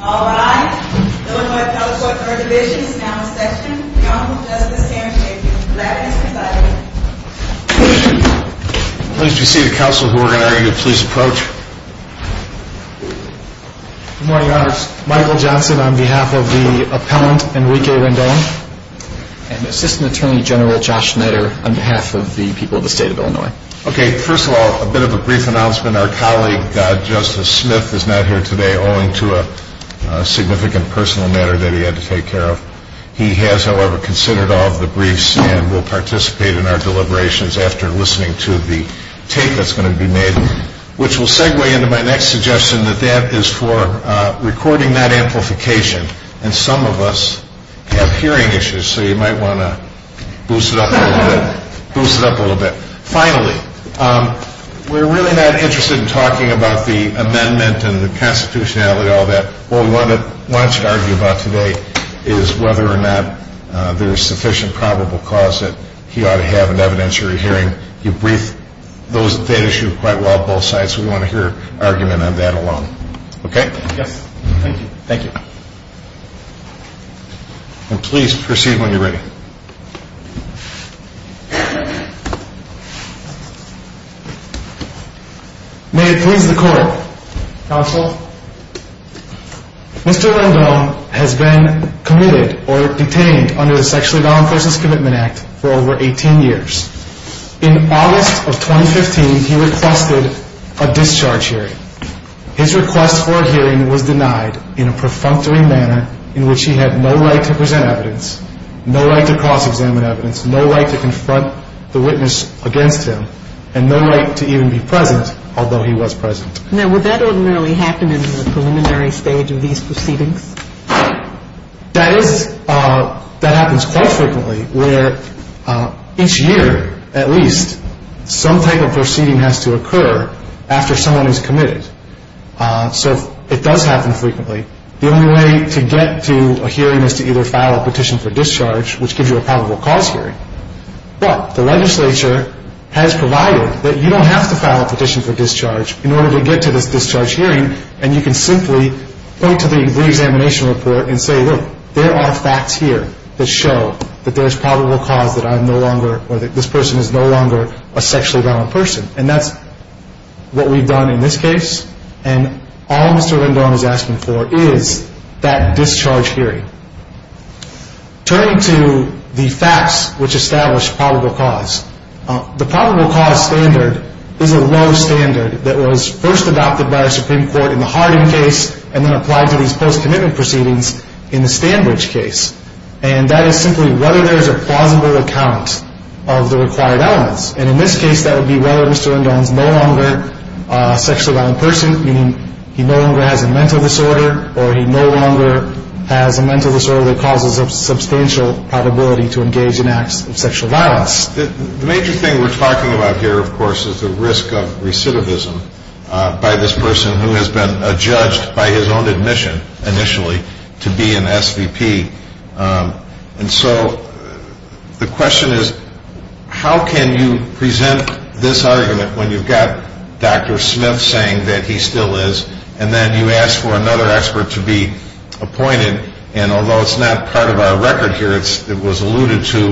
Alright, Illinois Appellate Court 3rd Division is now in session. The Honorable Justice Sanders, thank you. Glad to be presiding. Pleased to see the counsel who are going to argue the police approach. Good morning, Your Honors. Michael Johnson on behalf of the appellant Enrique Rendon. And Assistant Attorney General Josh Schneider on behalf of the people of the state of Illinois. Okay, first of all, a bit of a brief announcement. Our colleague Justice Smith is not here today, owing to a significant personal matter that he had to take care of. He has, however, considered all of the briefs and will participate in our deliberations after listening to the tape that's going to be made. Which will segue into my next suggestion that that is for recording that amplification. And some of us have hearing issues, so you might want to boost it up a little bit. Finally, we're really not interested in talking about the amendment and the constitutionality and all that. What we want you to argue about today is whether or not there is sufficient probable cause that he ought to have an evidentiary hearing. You briefed that issue quite well on both sides, so we want to hear an argument on that alone. Okay? Yes, thank you. Thank you. Please proceed when you're ready. May it please the Court. Counsel. Mr. Rendon has been committed or detained under the Sexually Violent Versus Commitment Act for over 18 years. In August of 2015, he requested a discharge hearing. His request for a hearing was denied in a perfunctory manner in which he had no right to present evidence, no right to cross-examine evidence, no right to confront the witness against him, and no right to even be present, although he was present. Now, would that ordinarily happen in the preliminary stage of these proceedings? That happens quite frequently where each year, at least, some type of proceeding has to occur after someone is committed. So it does happen frequently. The only way to get to a hearing is to either file a petition for discharge, which gives you a probable cause hearing. But the legislature has provided that you don't have to file a petition for discharge in order to get to this discharge hearing, and you can simply point to the reexamination report and say, look, there are facts here that show that there's probable cause that I'm no longer or that this person is no longer a sexually violent person. And that's what we've done in this case. And all Mr. Rendon is asking for is that discharge hearing. Turning to the facts which establish probable cause, the probable cause standard is a low standard that was first adopted by the Supreme Court in the Harding case and then applied to these post-commitment proceedings in the Standbridge case. And that is simply whether there's a plausible account of the required elements. And in this case, that would be whether Mr. Rendon is no longer a sexually violent person, meaning he no longer has a mental disorder, or he no longer has a mental disorder that causes a substantial probability to engage in acts of sexual violence. The major thing we're talking about here, of course, is the risk of recidivism by this person who has been judged by his own admission initially to be an SVP. And so the question is, how can you present this argument when you've got Dr. Smith saying that he still is and then you ask for another expert to be appointed? And although it's not part of our record here, it was alluded to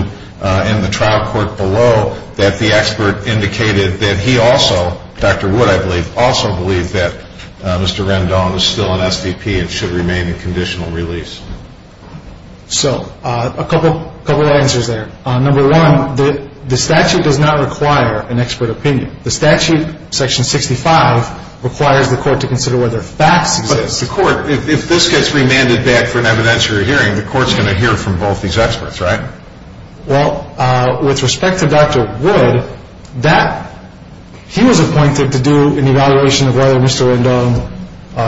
in the trial court below that the expert indicated that he also, Dr. Wood, I believe, also believed that Mr. Rendon was still an SVP and should remain in conditional release. So a couple of answers there. Number one, the statute does not require an expert opinion. The statute, Section 65, requires the court to consider whether facts exist. But the court, if this gets remanded back for an evidentiary hearing, the court's going to hear from both these experts, right? Well, with respect to Dr. Wood, he was appointed to do an evaluation of whether Mr. Rendon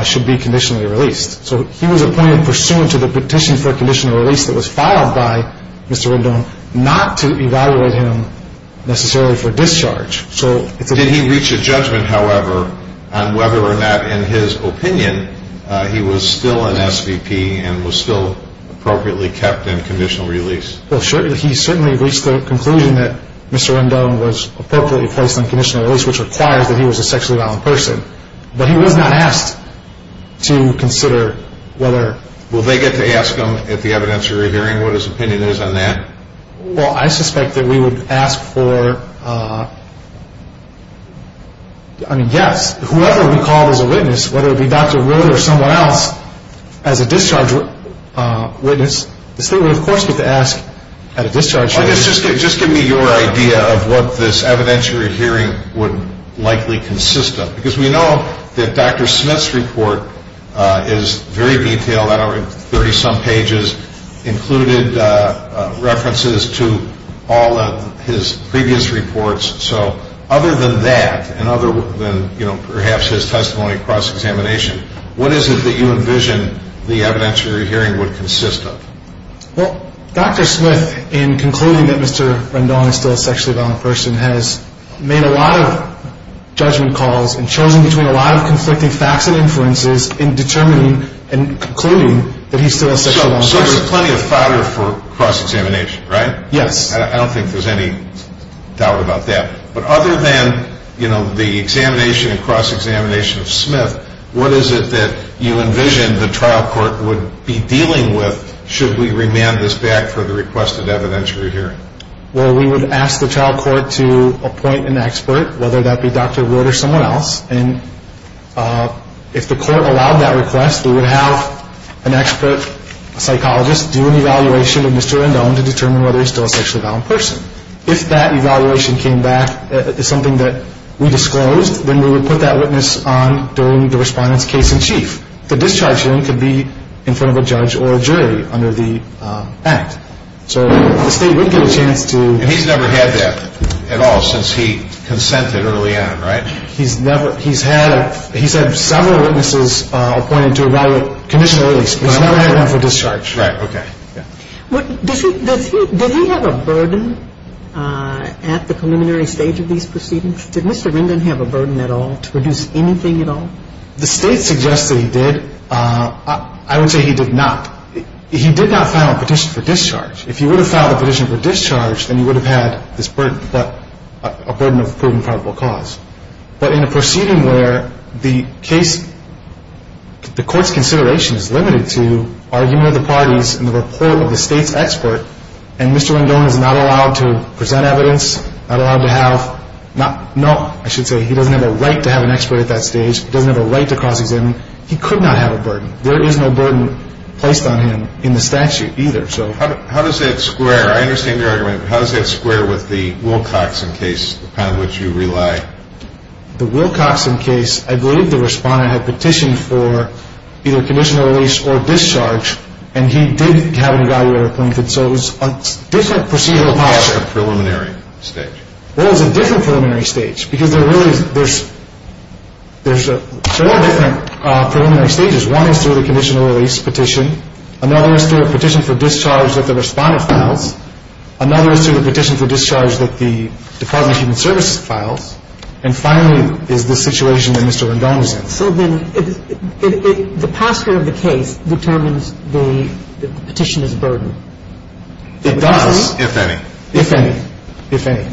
should be conditionally released. So he was appointed pursuant to the petition for conditional release that was filed by Mr. Rendon, not to evaluate him necessarily for discharge. Did he reach a judgment, however, on whether or not, in his opinion, he was still an SVP and was still appropriately kept in conditional release? Well, he certainly reached the conclusion that Mr. Rendon was appropriately placed in conditional release, which requires that he was a sexually violent person. But he was not asked to consider whether. Will they get to ask him at the evidentiary hearing what his opinion is on that? Well, I suspect that we would ask for, I mean, yes. Whoever we call as a witness, whether it be Dr. Wood or someone else, as a discharge witness, this thing would, of course, get to ask at a discharge hearing. Just give me your idea of what this evidentiary hearing would likely consist of. Because we know that Dr. Smith's report is very detailed, 30-some pages, included references to all of his previous reports. So other than that and other than perhaps his testimony at cross-examination, what is it that you envision the evidentiary hearing would consist of? Well, Dr. Smith, in concluding that Mr. Rendon is still a sexually violent person, has made a lot of judgment calls and chosen between a lot of conflicting facts and influences in determining and concluding that he's still a sexually violent person. So there's plenty of fodder for cross-examination, right? Yes. I don't think there's any doubt about that. But other than the examination and cross-examination of Smith, what is it that you envision the trial court would be dealing with should we remand this back for the requested evidentiary hearing? Well, we would ask the trial court to appoint an expert, whether that be Dr. Wood or someone else. And if the court allowed that request, we would have an expert psychologist do an evaluation of Mr. Rendon to determine whether he's still a sexually violent person. If that evaluation came back as something that we disclosed, then we would put that witness on during the respondent's case-in-chief. The discharge hearing could be in front of a judge or a jury under the act. So the state would get a chance to— And he's never had that at all since he consented early on, right? He's had several witnesses appointed to evaluate conditionally, but he's never had one for discharge. Right. Okay. Does he have a burden at the preliminary stage of these proceedings? Did Mr. Rendon have a burden at all to produce anything at all? The state suggests that he did. I would say he did not. He did not file a petition for discharge. If he would have filed a petition for discharge, then he would have had this burden, but a burden of proven probable cause. But in a proceeding where the case, the court's consideration is limited to argument of the parties and the report of the state's expert, and Mr. Rendon is not allowed to present evidence, not allowed to have—no, I should say he doesn't have a right to have an expert at that stage. He doesn't have a right to cross-examine. He could not have a burden. There is no burden placed on him in the statute either. How does that square? I understand your argument, but how does that square with the Wilcoxon case, upon which you rely? The Wilcoxon case, I believe the respondent had petitioned for either conditional release or discharge, and he did have an evaluator appointed. So it was a different procedural policy. It was a preliminary stage. Well, it was a different preliminary stage, because there really is — there's four different preliminary stages. One is through the conditional release petition. Another is through a petition for discharge that the respondent files. Another is through the petition for discharge that the Department of Human Services files. And finally is the situation that Mr. Rendon is in. So then the posture of the case determines the petitioner's burden. It does. If any. If any. If any.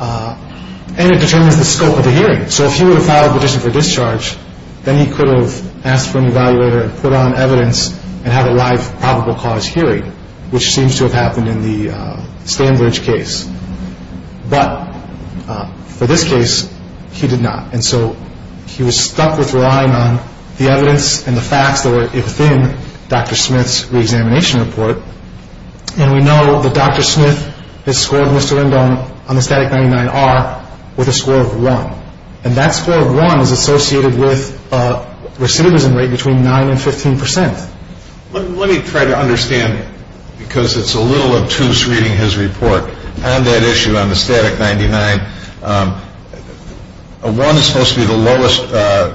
And it determines the scope of the hearing. So if he were to file a petition for discharge, then he could have asked for an evaluator and put on evidence and have a live probable cause hearing, which seems to have happened in the Stanbridge case. But for this case, he did not. And so he was stuck with relying on the evidence and the facts that were within Dr. Smith's reexamination report. And we know that Dr. Smith has scored Mr. Rendon on the Static-99-R with a score of 1. And that score of 1 is associated with a recidivism rate between 9 and 15 percent. Let me try to understand, because it's a little obtuse reading his report. On that issue, on the Static-99, 1 is supposed to be the lowest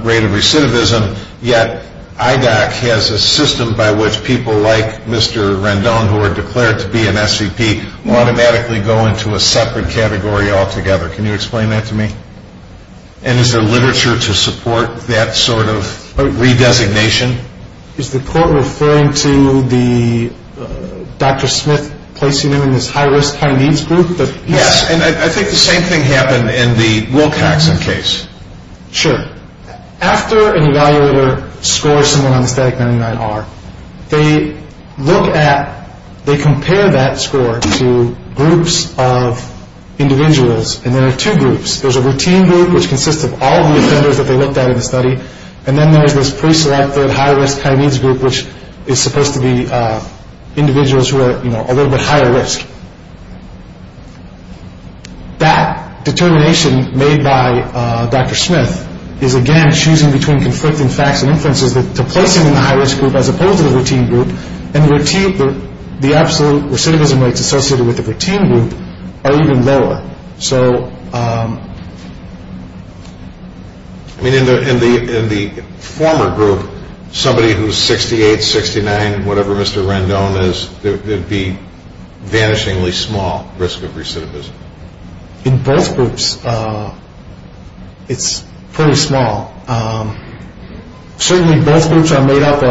rate of recidivism, yet IDOC has a system by which people like Mr. Rendon, who are declared to be an SCP, automatically go into a separate category altogether. Can you explain that to me? And is there literature to support that sort of redesignation? Is the court referring to Dr. Smith placing him in this high-risk, high-needs group? Yes, and I think the same thing happened in the Wilcoxon case. Sure. After an evaluator scores someone on the Static-99-R, they look at, they compare that score to groups of individuals, and there are two groups. There's a routine group, which consists of all the offenders that they looked at in the study, and then there's this preselected high-risk, high-needs group, which is supposed to be individuals who are a little bit higher risk. That determination made by Dr. Smith is, again, choosing between conflicting facts and inferences to place him in the high-risk group as opposed to the routine group, and the absolute recidivism rates associated with the routine group are even lower. So... I mean, in the former group, somebody who's 68, 69, whatever Mr. Rendon is, there'd be vanishingly small risk of recidivism. In both groups, it's pretty small. Certainly, both groups are made up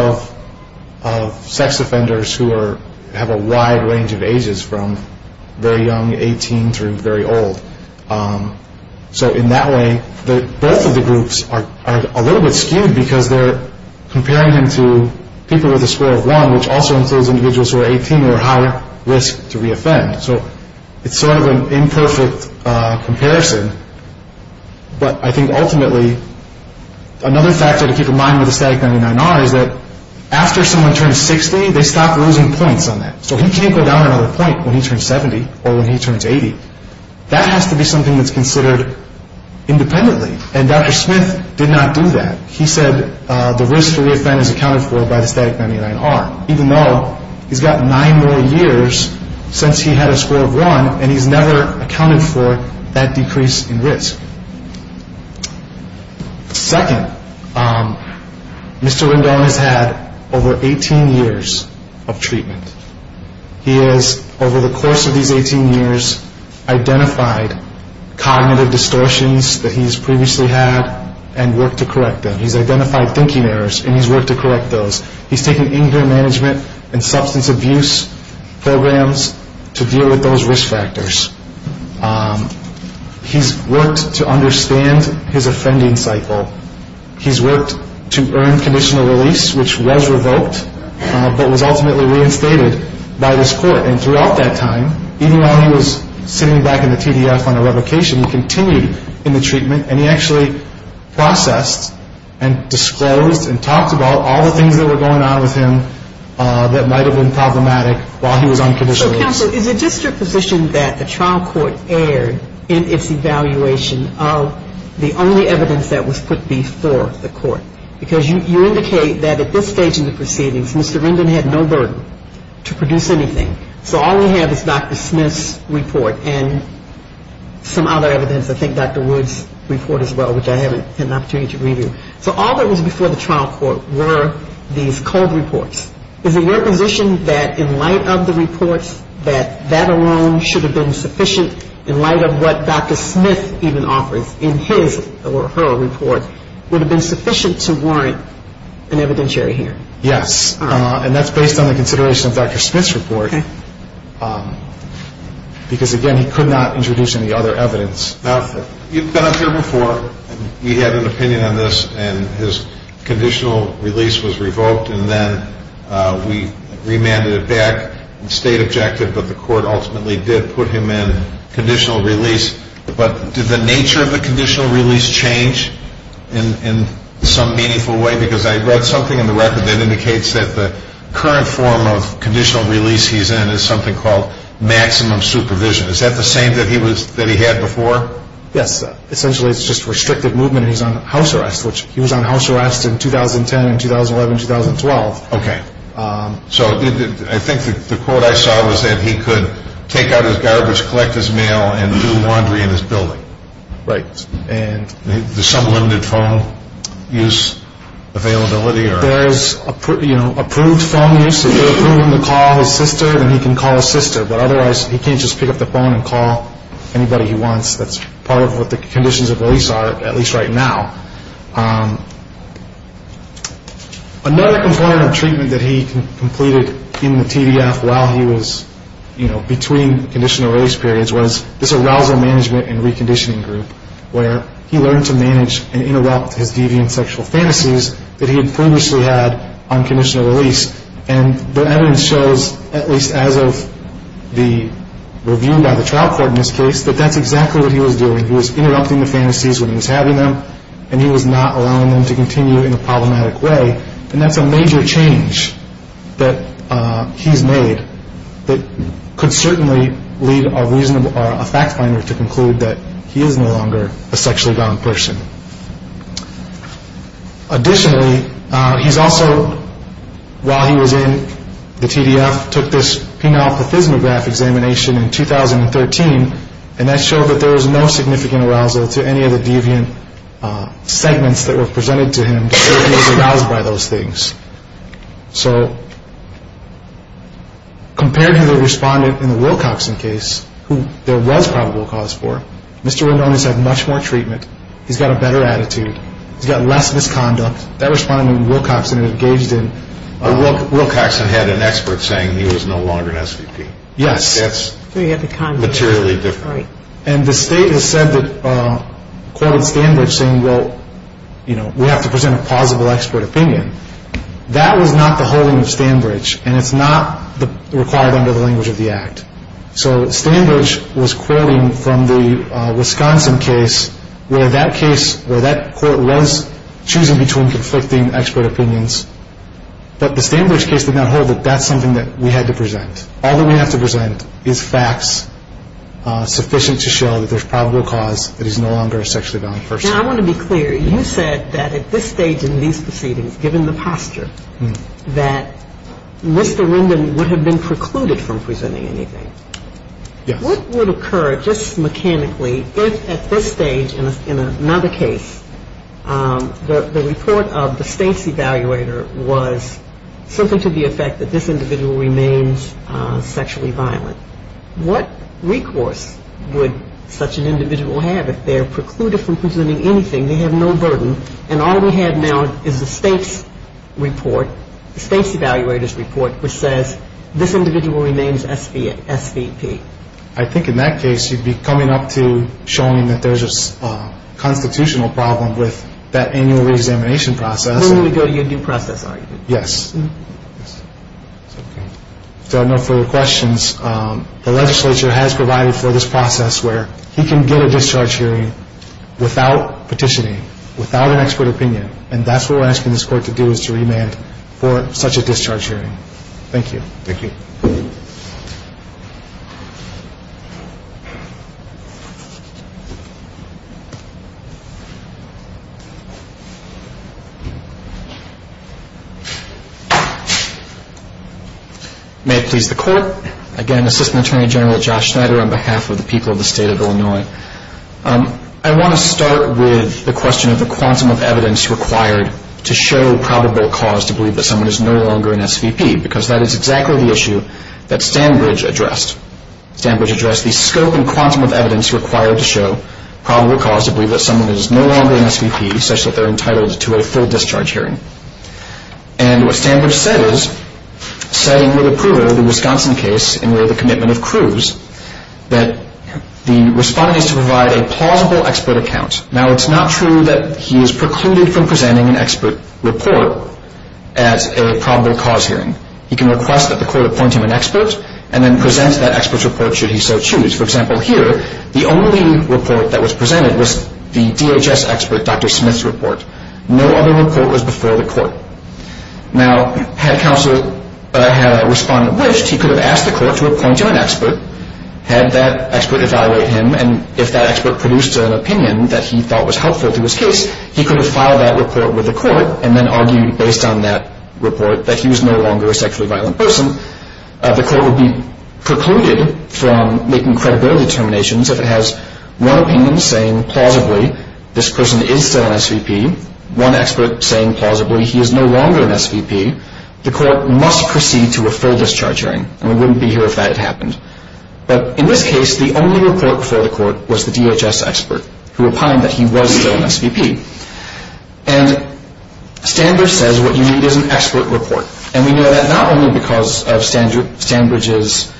of sex offenders who have a wide range of ages, from very young, 18, through very old. So in that way, both of the groups are a little bit skewed because they're comparing him to people with a score of 1, which also includes individuals who are 18 or higher risk to re-offend. So it's sort of an imperfect comparison, but I think ultimately, another factor to keep in mind with the Static-99-R is that after someone turns 60, they stop losing points on that. So he can't go down another point when he turns 70 or when he turns 80. That has to be something that's considered independently, and Dr. Smith did not do that. He said the risk for re-offending is accounted for by the Static-99-R, even though he's got 9 more years since he had a score of 1, and he's never accounted for that decrease in risk. Second, Mr. Rendon has had over 18 years of treatment. He has, over the course of these 18 years, identified cognitive distortions that he's previously had and worked to correct them. He's identified thinking errors, and he's worked to correct those. He's taken anger management and substance abuse programs to deal with those risk factors. He's worked to understand his offending cycle. He's worked to earn conditional release, which was revoked, but was ultimately reinstated by this court. And throughout that time, even while he was sitting back in the TDF on a revocation, he continued in the treatment, and he actually processed and disclosed and talked about all the things that were going on with him that might have been problematic while he was on conditional release. So, counsel, is it just your position that the trial court erred in its evaluation of the only evidence that was put before the court? Because you indicate that at this stage in the proceedings, Mr. Rendon had no burden to produce anything. So all we have is Dr. Smith's report and some other evidence, I think Dr. Wood's report as well, which I haven't had an opportunity to review. So all that was before the trial court were these cold reports. Is it your position that in light of the reports, that that alone should have been sufficient in light of what Dr. Smith even offers in his or her report would have been sufficient to warrant an evidentiary hearing? Yes. And that's based on the consideration of Dr. Smith's report because, again, he could not introduce any other evidence. Now, you've been up here before, and you had an opinion on this, and his conditional release was revoked, and then we remanded it back. It stayed objective, but the court ultimately did put him in conditional release. But did the nature of the conditional release change in some meaningful way? Because I read something in the record that indicates that the current form of conditional release he's in is something called maximum supervision. Is that the same that he had before? Yes. Essentially, it's just restricted movement, and he's on house arrest, which he was on house arrest in 2010 and 2011 and 2012. Okay. So I think the quote I saw was that he could take out his garbage, collect his mail, and do laundry in his building. Right. Is there some limited phone use availability? There is approved phone use. If you approve him to call his sister, then he can call his sister. But otherwise, he can't just pick up the phone and call anybody he wants. That's part of what the conditions of release are, at least right now. Another component of treatment that he completed in the TVF while he was, you know, between conditional release periods was this arousal management and reconditioning group, where he learned to manage and interrupt his deviant sexual fantasies that he had previously had on conditional release. And the evidence shows, at least as of the review by the trial court in this case, that that's exactly what he was doing. He was interrupting the fantasies when he was having them, and he was not allowing them to continue in a problematic way. And that's a major change that he's made that could certainly lead a fact finder to conclude that he is no longer a sexually bound person. Additionally, he's also, while he was in the TVF, took this penile-pathysmograph examination in 2013, and that showed that there was no significant arousal to any of the deviant segments that were presented to him to show he was aroused by those things. So compared to the respondent in the Wilcoxon case, who there was probable cause for, Mr. Rendon has had much more treatment. He's got a better attitude. He's got less misconduct. That respondent in Wilcoxon engaged in- Wilcoxon had an expert saying he was no longer an SVP. Yes. That's materially different. And the state has said that, quoted Stanbridge saying, well, you know, we have to present a plausible expert opinion. That was not the holding of Stanbridge, and it's not required under the language of the Act. So Stanbridge was quoting from the Wisconsin case where that case, where that court was choosing between conflicting expert opinions, but the Stanbridge case did not hold that that's something that we had to present. All that we have to present is facts sufficient to show that there's probable cause that he's no longer a sexually violent person. Now, I want to be clear. You said that at this stage in these proceedings, given the posture, that Mr. Rendon would have been precluded from presenting anything. Yes. What would occur just mechanically if at this stage in another case the report of the state's evaluator was something to the effect that this individual remains sexually violent? What recourse would such an individual have if they're precluded from presenting anything? They have no burden, and all we have now is the state's report, the state's evaluator's report, which says this individual remains SVP. I think in that case you'd be coming up to showing that there's a constitutional problem with that annual reexamination process. We're going to go to your new process argument. Yes. Okay. If there are no further questions, the legislature has provided for this process where he can get a discharge hearing without petitioning, without an expert opinion, and that's what we're asking this court to do is to remand for such a discharge hearing. Thank you. Thank you. Thank you. May it please the court. Again, Assistant Attorney General Josh Schneider on behalf of the people of the state of Illinois. I want to start with the question of the quantum of evidence required to show probable cause to believe that someone is no longer an SVP because that is exactly the issue that Stanbridge addressed. Stanbridge addressed the scope and quantum of evidence required to show probable cause to believe that someone is no longer an SVP such that they're entitled to a full discharge hearing. And what Stanbridge said is, saying with approval of the Wisconsin case and with the commitment of Cruz, that the respondent is to provide a plausible expert account. Now, it's not true that he is precluded from presenting an expert report as a probable cause hearing. He can request that the court appoint him an expert and then present that expert's report should he so choose. For example, here, the only report that was presented was the DHS expert, Dr. Smith's report. No other report was before the court. Now, had counsel had a respondent wished, he could have asked the court to appoint him an expert, had that expert evaluate him, and if that expert produced an opinion that he thought was helpful to his case, he could have filed that report with the court and then argued based on that report that he was no longer a sexually violent person. The court would be precluded from making credibility determinations if it has one opinion saying, plausibly, this person is still an SVP, one expert saying, plausibly, he is no longer an SVP. The court must proceed to a full discharge hearing. And we wouldn't be here if that had happened. But in this case, the only report before the court was the DHS expert who opined that he was still an SVP. And Stanbridge says what you need is an expert report. And we know that not only because of Stanbridge's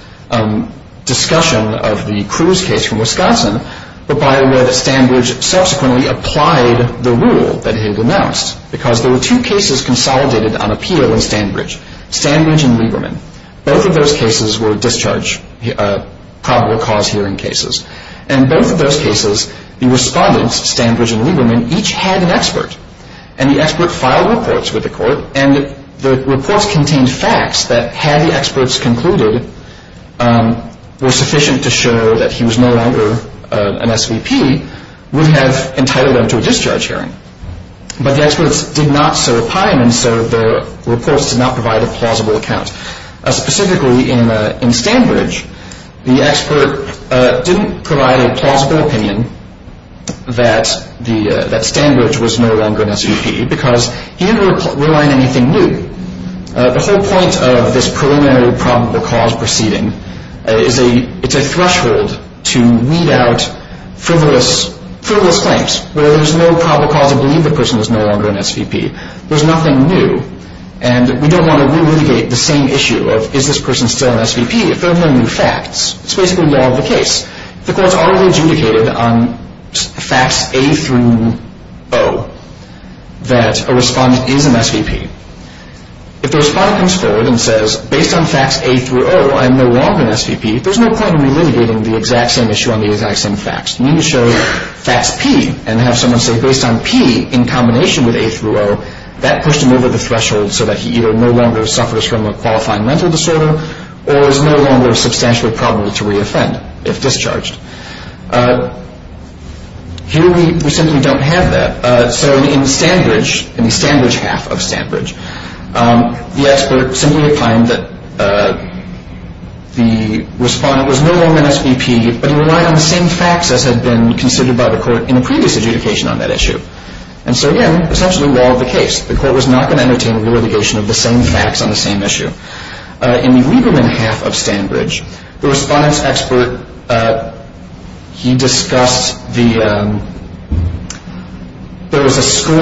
discussion of the Cruz case from Wisconsin, but by the way, that Stanbridge subsequently applied the rule that he had announced because there were two cases consolidated on appeal in Stanbridge, Stanbridge and Lieberman. Both of those cases were discharge probable cause hearing cases. And both of those cases, the respondents, Stanbridge and Lieberman, each had an expert. And the expert filed reports with the court, and the reports contained facts that had the experts concluded were sufficient to show that he was no longer an SVP, would have entitled them to a discharge hearing. But the experts did not so opine, and so the reports did not provide a plausible account. Specifically, in Stanbridge, the expert didn't provide a plausible opinion that Stanbridge was no longer an SVP because he didn't rely on anything new. The whole point of this preliminary probable cause proceeding is it's a threshold to weed out frivolous claims where there's no probable cause to believe the person is no longer an SVP. There's nothing new. And we don't want to relitigate the same issue of is this person still an SVP if there are no new facts. It's basically law of the case. The courts already adjudicated on facts A through O that a respondent is an SVP. If the respondent comes forward and says, based on facts A through O, I'm no longer an SVP, there's no point in relitigating the exact same issue on the exact same facts. You need to show facts P and have someone say, based on P in combination with A through O, that pushed him over the threshold so that he either no longer suffers from a qualifying mental disorder or is no longer substantially probable to re-offend if discharged. Here we simply don't have that. So in Stanbridge, in the Stanbridge half of Stanbridge, the expert simply opined that the respondent was no longer an SVP, but he relied on the same facts as had been considered by the court in a previous adjudication on that issue. And so, again, essentially law of the case. The court was not going to entertain a relitigation of the same facts on the same issue. In the Lieberman half of Stanbridge, the respondent's expert, he discussed the, there was a score,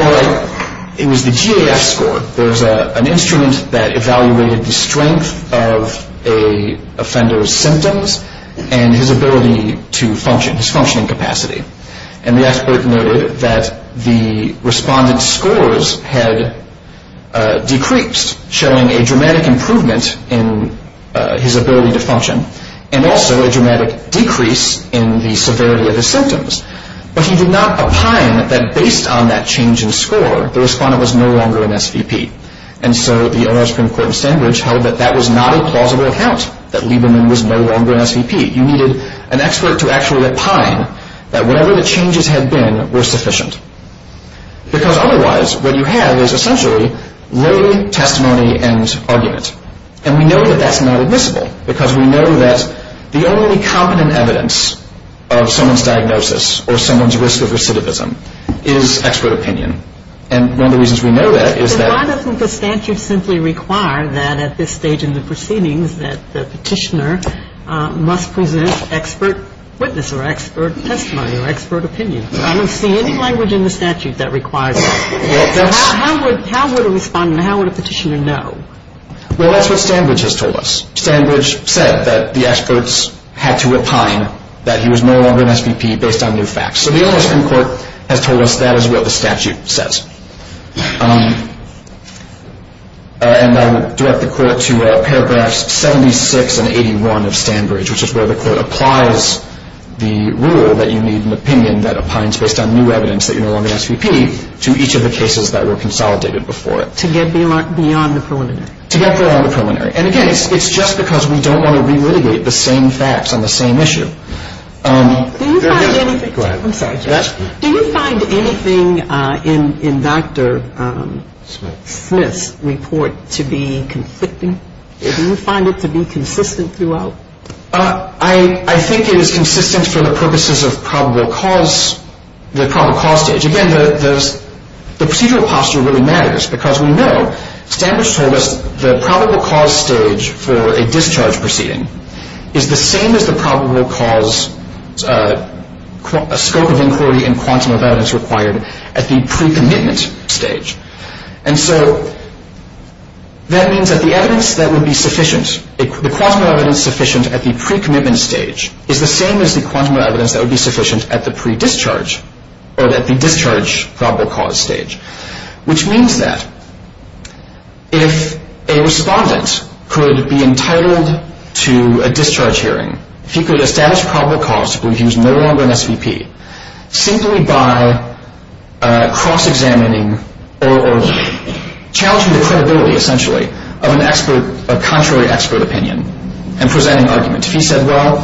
it was the GAF score. There was an instrument that evaluated the strength of a offender's symptoms and his ability to function, his functioning capacity. And the expert noted that the respondent's scores had decreased, showing a dramatic improvement in his ability to function and also a dramatic decrease in the severity of his symptoms. But he did not opine that based on that change in score, the respondent was no longer an SVP. And so the Ohio Supreme Court in Stanbridge held that that was not a plausible account, that Lieberman was no longer an SVP. You needed an expert to actually opine that whatever the changes had been were sufficient. Because otherwise, what you have is essentially lay testimony and argument. And we know that that's not admissible because we know that the only competent evidence of someone's diagnosis or someone's risk of recidivism is expert opinion. And one of the reasons we know that is that. So why doesn't the statute simply require that at this stage in the proceedings that the petitioner must present expert witness or expert testimony or expert opinion? I don't see any language in the statute that requires that. So how would a respondent, how would a petitioner know? Well, that's what Stanbridge has told us. Stanbridge said that the experts had to opine that he was no longer an SVP based on new facts. So the Ohio Supreme Court has told us that is what the statute says. And I will direct the court to paragraphs 76 and 81 of Stanbridge, which is where the court applies the rule that you need an opinion that opines based on new evidence that you're no longer an SVP to each of the cases that were consolidated before it. To get beyond the preliminary. To get beyond the preliminary. And, again, it's just because we don't want to re-litigate the same facts on the same issue. Do you find anything in Dr. Smith's report to be conflicting? Do you find it to be consistent throughout? I think it is consistent for the purposes of probable cause, the probable cause stage. Again, the procedural posture really matters because we know Stanbridge told us the probable cause stage for a discharge proceeding is the same as the probable cause scope of inquiry and quantum of evidence required at the pre-commitment stage. And so that means that the evidence that would be sufficient, the quantum of evidence sufficient at the pre-commitment stage, is the same as the quantum of evidence that would be sufficient at the pre-discharge or at the discharge probable cause stage, which means that if a respondent could be entitled to a discharge hearing, if he could establish probable cause, if he was no longer an SVP, simply by cross-examining or challenging the credibility, essentially, of a contrary expert opinion and presenting argument. If he said, well,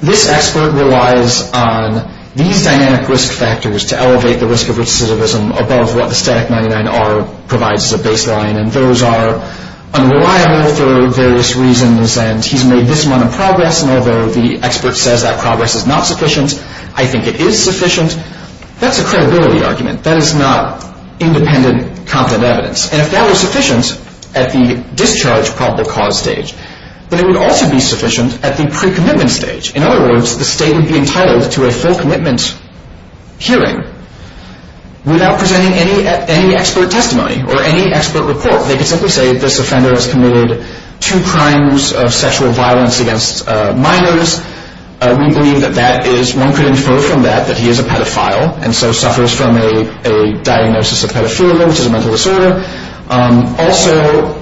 this expert relies on these dynamic risk factors to elevate the risk of recidivism above what the static 99R provides as a baseline and those are unreliable for various reasons and he's made this amount of progress and although the expert says that progress is not sufficient, I think it is sufficient, that's a credibility argument. That is not independent content evidence. And if that was sufficient at the discharge probable cause stage, then it would also be sufficient at the pre-commitment stage. In other words, the state would be entitled to a full commitment hearing without presenting any expert testimony or any expert report. Or they could simply say this offender has committed two crimes of sexual violence against minors. We believe that one could infer from that that he is a pedophile and so suffers from a diagnosis of pedophilia, which is a mental disorder. Also,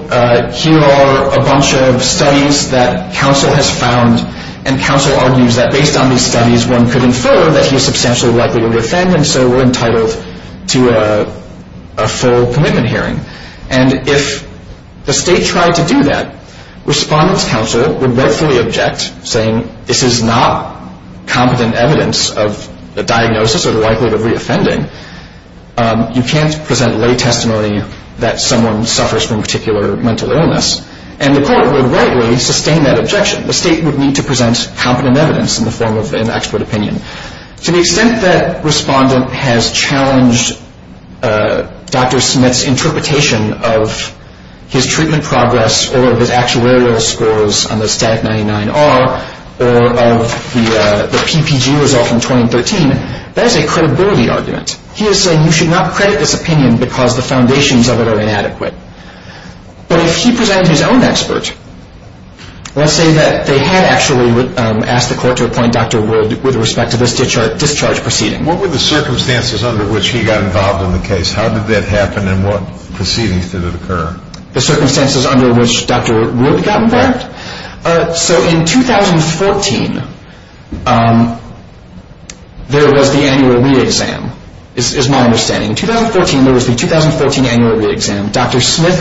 here are a bunch of studies that counsel has found and counsel argues that based on these studies one could infer that he is substantially likely to be a friend and so we're entitled to a full commitment hearing. And if the state tried to do that, respondent's counsel would rightfully object, saying this is not competent evidence of the diagnosis or the likelihood of reoffending. You can't present lay testimony that someone suffers from a particular mental illness. And the court would rightly sustain that objection. The state would need to present competent evidence in the form of an expert opinion. To the extent that respondent has challenged Dr. Smith's interpretation of his treatment progress or of his actuarial scores on the STAT 99-R or of the PPG result from 2013, that is a credibility argument. He is saying you should not credit this opinion because the foundations of it are inadequate. But if he presented his own expert, let's say that they had actually asked the court to appoint Dr. Wood with respect to this discharge proceeding. What were the circumstances under which he got involved in the case? How did that happen and what proceedings did it occur? The circumstances under which Dr. Wood got involved? So in 2014 there was the annual re-exam is my understanding. In 2014 there was the 2014 annual re-exam. Dr. Smith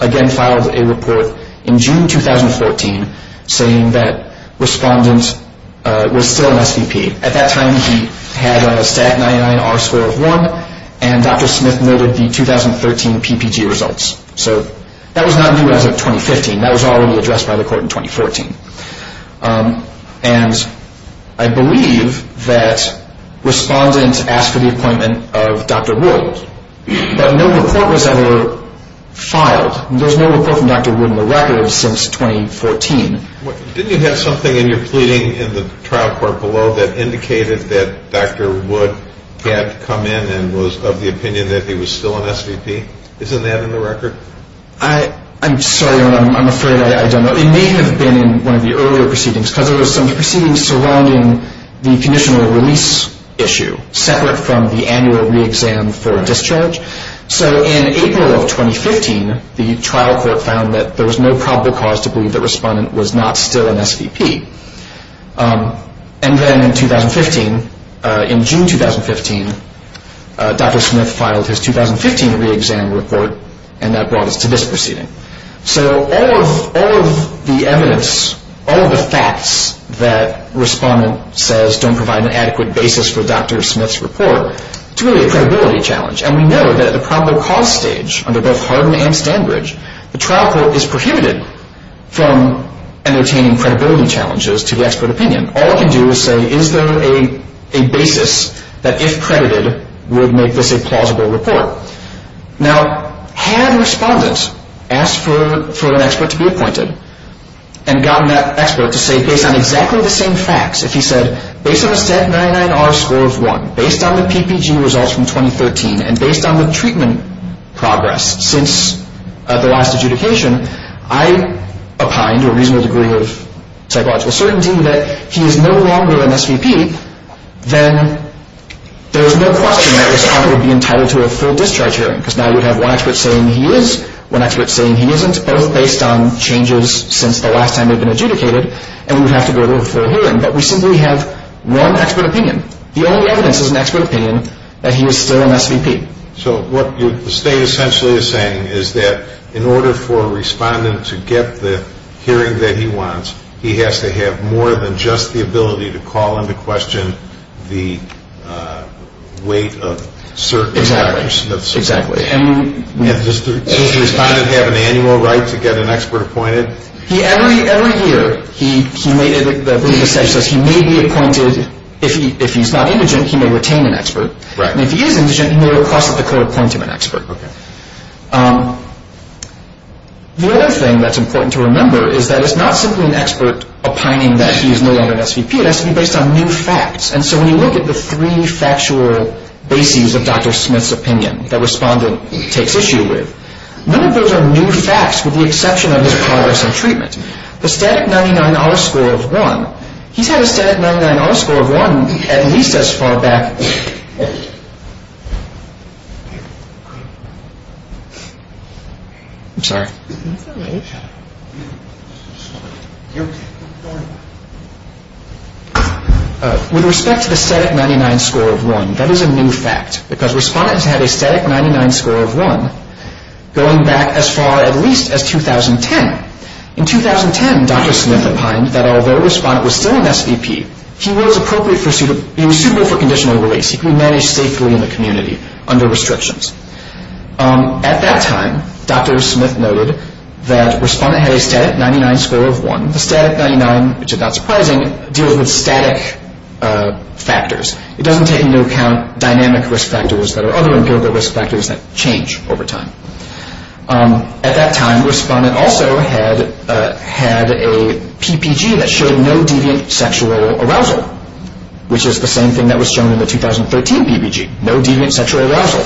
again filed a report in June 2014 saying that respondent was still an SVP. At that time he had a STAT 99-R score of 1 and Dr. Smith noted the 2013 PPG results. So that was not new as of 2015. That was already addressed by the court in 2014. And I believe that respondent asked for the appointment of Dr. Wood. But no report was ever filed. There was no report from Dr. Wood in the record since 2014. Didn't you have something in your pleading in the trial court below that indicated that Dr. Wood had come in and was of the opinion that he was still an SVP? Isn't that in the record? I'm sorry, I'm afraid I don't know. It may have been in one of the earlier proceedings because there were some proceedings surrounding the conditional release issue separate from the annual re-exam for discharge. So in April of 2015 the trial court found that there was no probable cause to believe that respondent was not still an SVP. And then in June 2015 Dr. Smith filed his 2015 re-exam report and that brought us to this proceeding. So all of the evidence, all of the facts that respondent says don't provide an adequate basis for Dr. Smith's report, it's really a credibility challenge. And we know that at the probable cause stage under both Hardin and Standbridge, the trial court is prohibited from entertaining credibility challenges to the expert opinion. All it can do is say is there a basis that if credited would make this a plausible report. Now had respondent asked for an expert to be appointed and gotten that expert to say based on exactly the same facts, if he said based on a STAT 99R score of 1, based on the PPG results from 2013, and based on the treatment progress since the last adjudication, I opine to a reasonable degree of psychological certainty that he is no longer an SVP, then there is no question that respondent would be entitled to a full discharge hearing because now you have one expert saying he is, one expert saying he isn't, both based on changes since the last time they've been adjudicated, and we would have to go to a full hearing. But we simply have one expert opinion. The only evidence is an expert opinion that he is still an SVP. So what the state essentially is saying is that in order for a respondent to get the hearing that he wants, he has to have more than just the ability to call into question the weight of certain factors. Exactly. Does the respondent have an annual right to get an expert appointed? Every year he may be appointed. If he's not indigent, he may retain an expert. And if he is indigent, he may request that the court appoint him an expert. The other thing that's important to remember is that it's not simply an expert opining that he is no longer an SVP. It has to be based on new facts. And so when you look at the three factual bases of Dr. Smith's opinion that respondent takes issue with, none of those are new facts with the exception of his progress in treatment. The static 99-R score of 1, he's had a static 99-R score of 1 at least as far back... I'm sorry. With respect to the static 99 score of 1, that is a new fact. Because respondent has had a static 99 score of 1 going back as far at least as 2010. In 2010, Dr. Smith opined that although respondent was still an SVP, he was suitable for conditional release. He could be managed safely in the community under restrictions. At that time, Dr. Smith noted that respondent had a static 99 score of 1. The static 99, which is not surprising, deals with static factors. It doesn't take into account dynamic risk factors that are other empirical risk factors that change over time. At that time, respondent also had a PPG that showed no deviant sexual arousal, which is the same thing that was shown in the 2013 PPG, no deviant sexual arousal.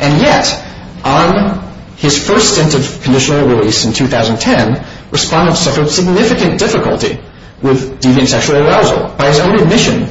And yet, on his first stint of conditional release in 2010, respondent suffered significant difficulty with deviant sexual arousal. By his own admission,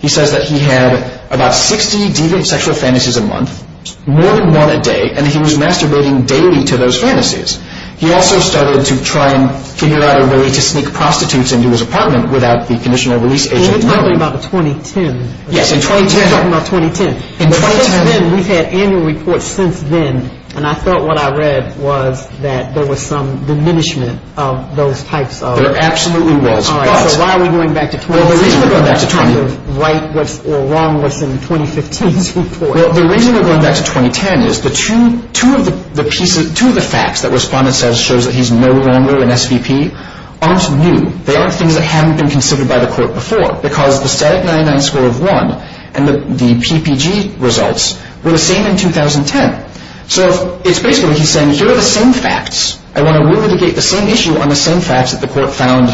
he says that he had about 60 deviant sexual fantasies a month, more than one a day, and he was masturbating daily to those fantasies. He also started to try and figure out a way to sneak prostitutes into his apartment without the conditional release agent knowing. You're talking about 2010. Yes, in 2010. You're talking about 2010. In 2010. But since then, we've had annual reports since then, and I thought what I read was that there was some diminishment of those types of... There absolutely was. All right. So why are we going back to 2010? Well, the reason we're going back to 2010... To write what's wrong with some 2015's report. Well, the reason we're going back to 2010 is two of the facts that respondent says shows that he's no longer an SVP aren't new. They aren't things that haven't been considered by the court before because the static 99 score of 1 and the PPG results were the same in 2010. So it's basically he's saying here are the same facts, I want to re-litigate the same issue on the same facts that the court found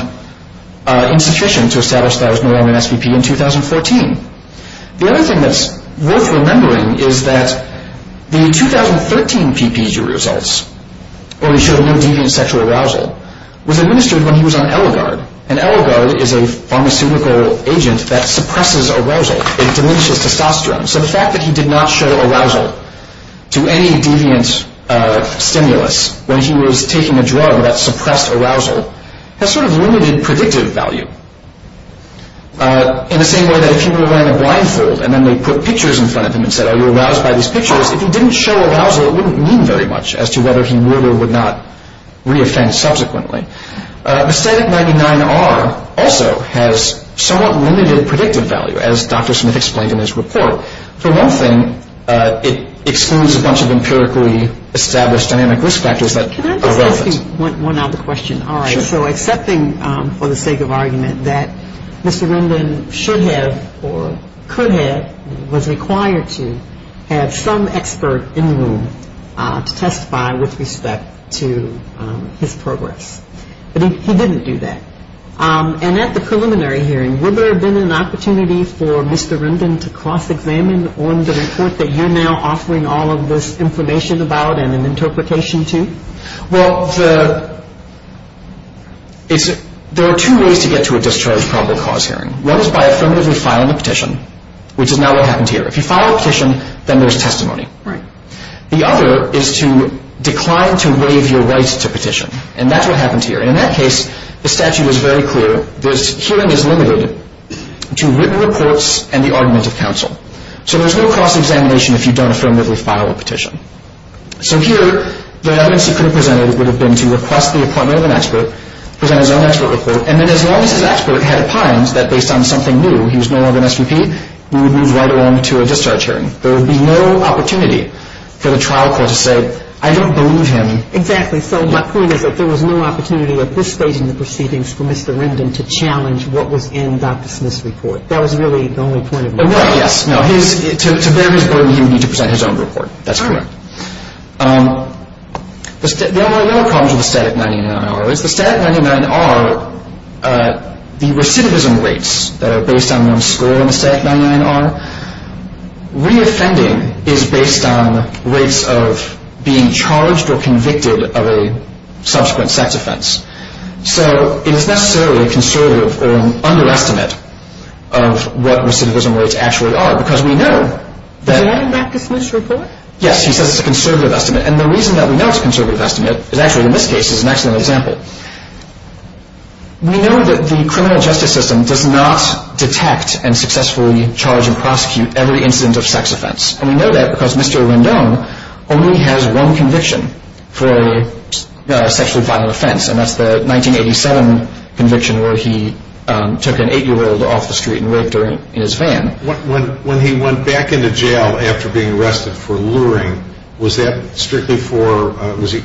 insufficient to establish that he was no longer an SVP in 2014. The other thing that's worth remembering is that the 2013 PPG results, where he showed no deviant sexual arousal, was administered when he was on Eligard. And Eligard is a pharmaceutical agent that suppresses arousal. It diminishes testosterone. So the fact that he did not show arousal to any deviant stimulus when he was taking a drug that suppressed arousal has sort of limited predictive value. In the same way that if he were wearing a blindfold and then they put pictures in front of him and said, are you aroused by these pictures? If he didn't show arousal, it wouldn't mean very much as to whether he would or would not re-offend subsequently. The static 99R also has somewhat limited predictive value, as Dr. Smith explained in his report. For one thing, it excludes a bunch of empirically established dynamic risk factors that are relevant. Can I just ask one other question? Sure. All right. So accepting for the sake of argument that Mr. Rendon should have or could have, was required to have some expert in the room to testify with respect to his progress. But he didn't do that. And at the preliminary hearing, would there have been an opportunity for Mr. Rendon to cross-examine on the report that you're now offering all of this information about and an interpretation to? Well, there are two ways to get to a discharge probable cause hearing. One is by affirmatively filing a petition, which is not what happened here. If you file a petition, then there's testimony. Right. The other is to decline to waive your rights to petition, and that's what happened here. In that case, the statute is very clear. This hearing is limited to written reports and the argument of counsel. So there's no cross-examination if you don't affirmatively file a petition. So here, the evidence he could have presented would have been to request the appointment of an expert, present his own expert report, and then as long as his expert had opined that based on something new, he was no longer an SVP, we would move right along to a discharge hearing. There would be no opportunity for the trial court to say, I don't believe him. Exactly. So my point is that there was no opportunity at this stage in the proceedings for Mr. Rendon to challenge what was in Dr. Smith's report. That was really the only point of view. Right, yes. To bear his burden, he would need to present his own report. That's correct. All right. The other problems with the Statute 99-R is the Statute 99-R, the recidivism rates that are based on of a subsequent sex offense. So it is necessarily a conservative or an underestimate of what recidivism rates actually are because we know that Is that in Dr. Smith's report? Yes, he says it's a conservative estimate. And the reason that we know it's a conservative estimate is actually in this case is an excellent example. We know that the criminal justice system does not detect and successfully charge and prosecute every incident of sex offense. And we know that because Mr. Rendon only has one conviction for a sexually violent offense, and that's the 1987 conviction where he took an 8-year-old off the street and raped her in his van. When he went back into jail after being arrested for luring, was that strictly for, was he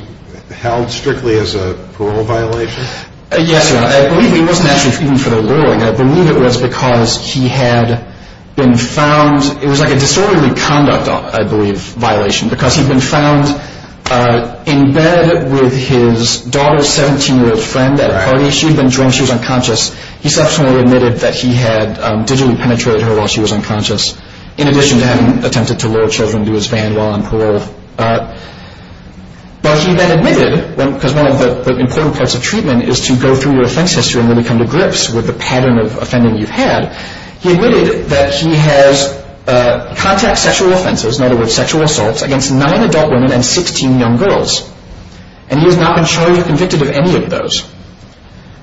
held strictly as a parole violation? Yes, Your Honor. I believe he wasn't actually treated for the luring. I believe it was because he had been found, it was like a disorderly conduct, I believe, violation, because he'd been found in bed with his daughter's 17-year-old friend at a party. She'd been drunk. She was unconscious. He subsequently admitted that he had digitally penetrated her while she was unconscious, in addition to having attempted to lure children into his van while on parole. But he then admitted, because one of the important parts of treatment is to go through your offense history and really come to grips with the pattern of offending you've had, he admitted that he has contacted sexual offenses, in other words, sexual assaults, against nine adult women and 16 young girls, and he has not been charged or convicted of any of those.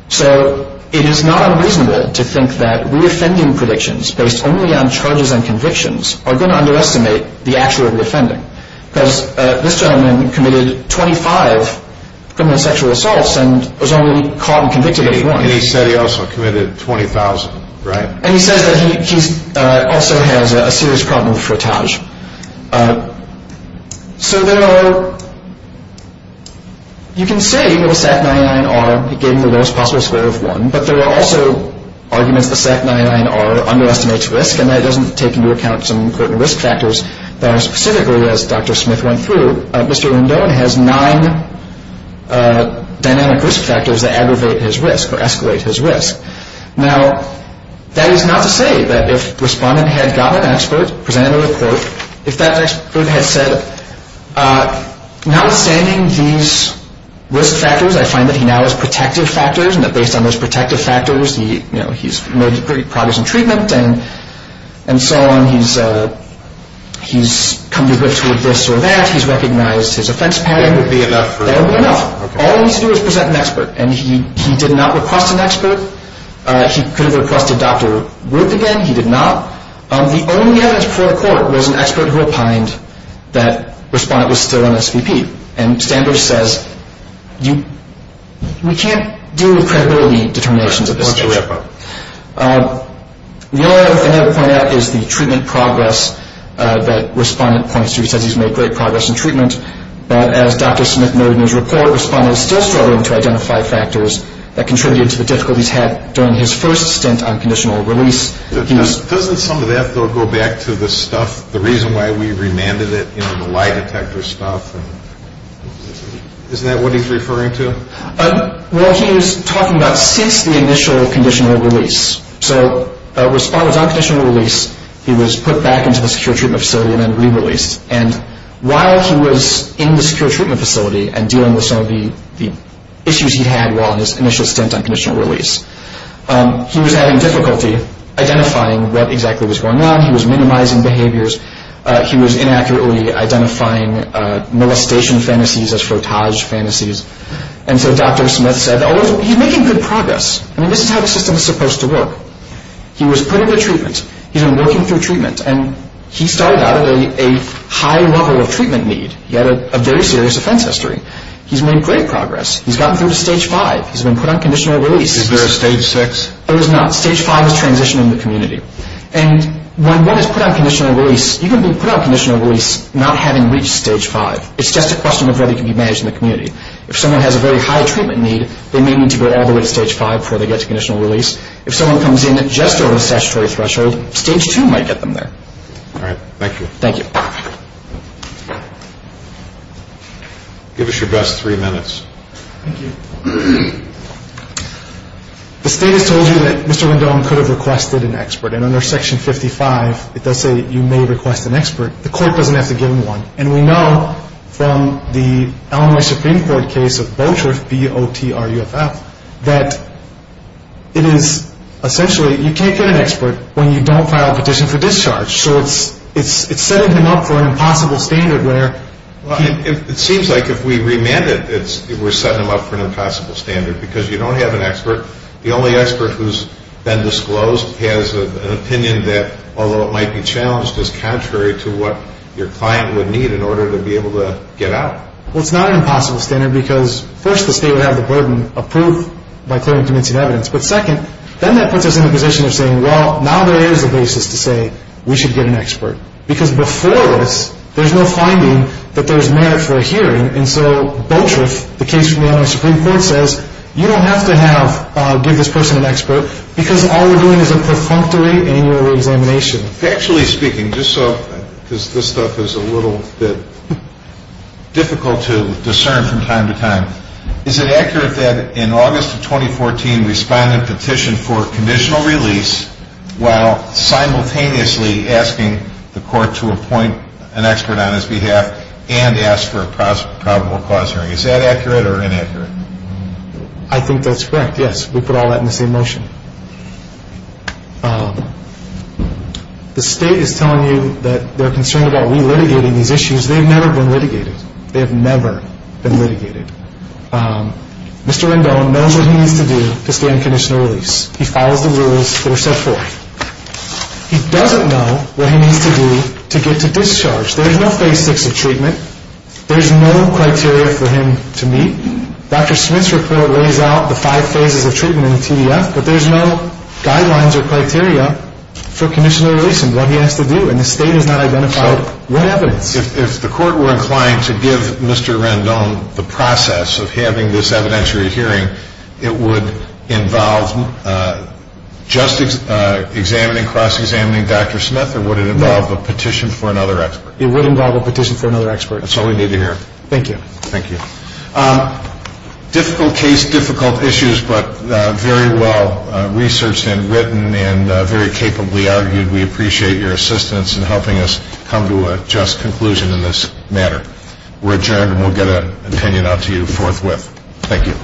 So it is not unreasonable to think that reoffending predictions based only on charges and convictions are going to underestimate the actual reoffending, because this gentleman committed 25 criminal sexual assaults and was only caught and convicted of one. And he said he also committed 20,000, right? And he says that he also has a serious problem with frottage. So there are, you can say that a SAC-99R gave him the lowest possible score of one, but there are also arguments that a SAC-99R underestimates risk and that it doesn't take into account some important risk factors. Specifically, as Dr. Smith went through, Mr. Rendon has nine dynamic risk factors that aggravate his risk or escalate his risk. Now, that is not to say that if a respondent had got an expert, presented a report, if that expert had said, notwithstanding these risk factors, I find that he now has protective factors, and that based on those protective factors, he's made great progress in treatment and so on. He's come to grips with this or that. He's recognized his offense pattern. That would be enough. That would be enough. All he needs to do is present an expert, and he did not request an expert. He could have requested Dr. Wood again. He did not. The only evidence before the court was an expert who opined that the respondent was still on SVP. And Standish says, we can't deal with credibility determinations at this stage. The only other thing I have to point out is the treatment progress that respondent points to. He says he's made great progress in treatment. But as Dr. Smith noted in his report, respondent is still struggling to identify factors that contributed to the difficulties he had during his first stint on conditional release. Doesn't some of that, though, go back to the stuff, the reason why we remanded it, you know, the lie detector stuff? Isn't that what he's referring to? Well, he was talking about since the initial conditional release. So respondent was on conditional release. He was put back into the secure treatment facility and then re-released. And while he was in the secure treatment facility and dealing with some of the issues he had while in his initial stint on conditional release, he was having difficulty identifying what exactly was going on. He was minimizing behaviors. He was inaccurately identifying molestation fantasies as frottage fantasies. And so Dr. Smith said, oh, he's making good progress. I mean, this is how the system is supposed to work. He was put into treatment. He's been working through treatment. And he started out at a high level of treatment need. He had a very serious offense history. He's made great progress. He's gotten through to stage five. He's been put on conditional release. Is there a stage six? There is not. Stage five is transitioning the community. And when one is put on conditional release, you can be put on conditional release not having reached stage five. It's just a question of whether you can be managed in the community. If someone has a very high treatment need, they may need to go all the way to stage five before they get to conditional release. If someone comes in just over the statutory threshold, stage two might get them there. All right. Thank you. Thank you. Give us your best three minutes. Thank you. The state has told you that Mr. Rendon could have requested an expert. And under Section 55, it does say you may request an expert. The court doesn't have to give him one. And we know from the Illinois Supreme Court case of Boatruff, B-O-T-R-U-F-F, that it is essentially you can't get an expert when you don't file a petition for discharge. It seems like if we remand it, we're setting him up for an impossible standard because you don't have an expert. The only expert who's been disclosed has an opinion that, although it might be challenged, is contrary to what your client would need in order to be able to get out. Well, it's not an impossible standard because, first, the state would have the burden of proof by clearly convincing evidence. But, second, then that puts us in a position of saying, well, now there is a basis to say we should get an expert. Because before this, there's no finding that there's merit for a hearing. And so Boatruff, the case from the Illinois Supreme Court, says, you don't have to give this person an expert because all we're doing is a perfunctory annual reexamination. Factually speaking, just so, because this stuff is a little bit difficult to discern from time to time, is it accurate that in August of 2014, for conditional release while simultaneously asking the court to appoint an expert on his behalf and ask for a probable cause hearing? Is that accurate or inaccurate? I think that's correct, yes. We put all that in the same motion. The state is telling you that they're concerned about re-litigating these issues. They've never been litigated. They have never been litigated. Mr. Rendon knows what he needs to do to stand conditional release. He follows the rules that are set forth. He doesn't know what he needs to do to get to discharge. There's no phase six of treatment. There's no criteria for him to meet. Dr. Smith's report lays out the five phases of treatment in the TDF, but there's no guidelines or criteria for conditional release and what he has to do. And the state has not identified any evidence. If the court were inclined to give Mr. Rendon the process of having this evidentiary hearing, it would involve just examining, cross-examining Dr. Smith, or would it involve a petition for another expert? It would involve a petition for another expert. That's all we need to hear. Thank you. Thank you. Difficult case, difficult issues, but very well researched and written and very capably argued. We appreciate your assistance in helping us come to a just conclusion in this matter. We're adjourned, and we'll get an opinion out to you forthwith. Thank you.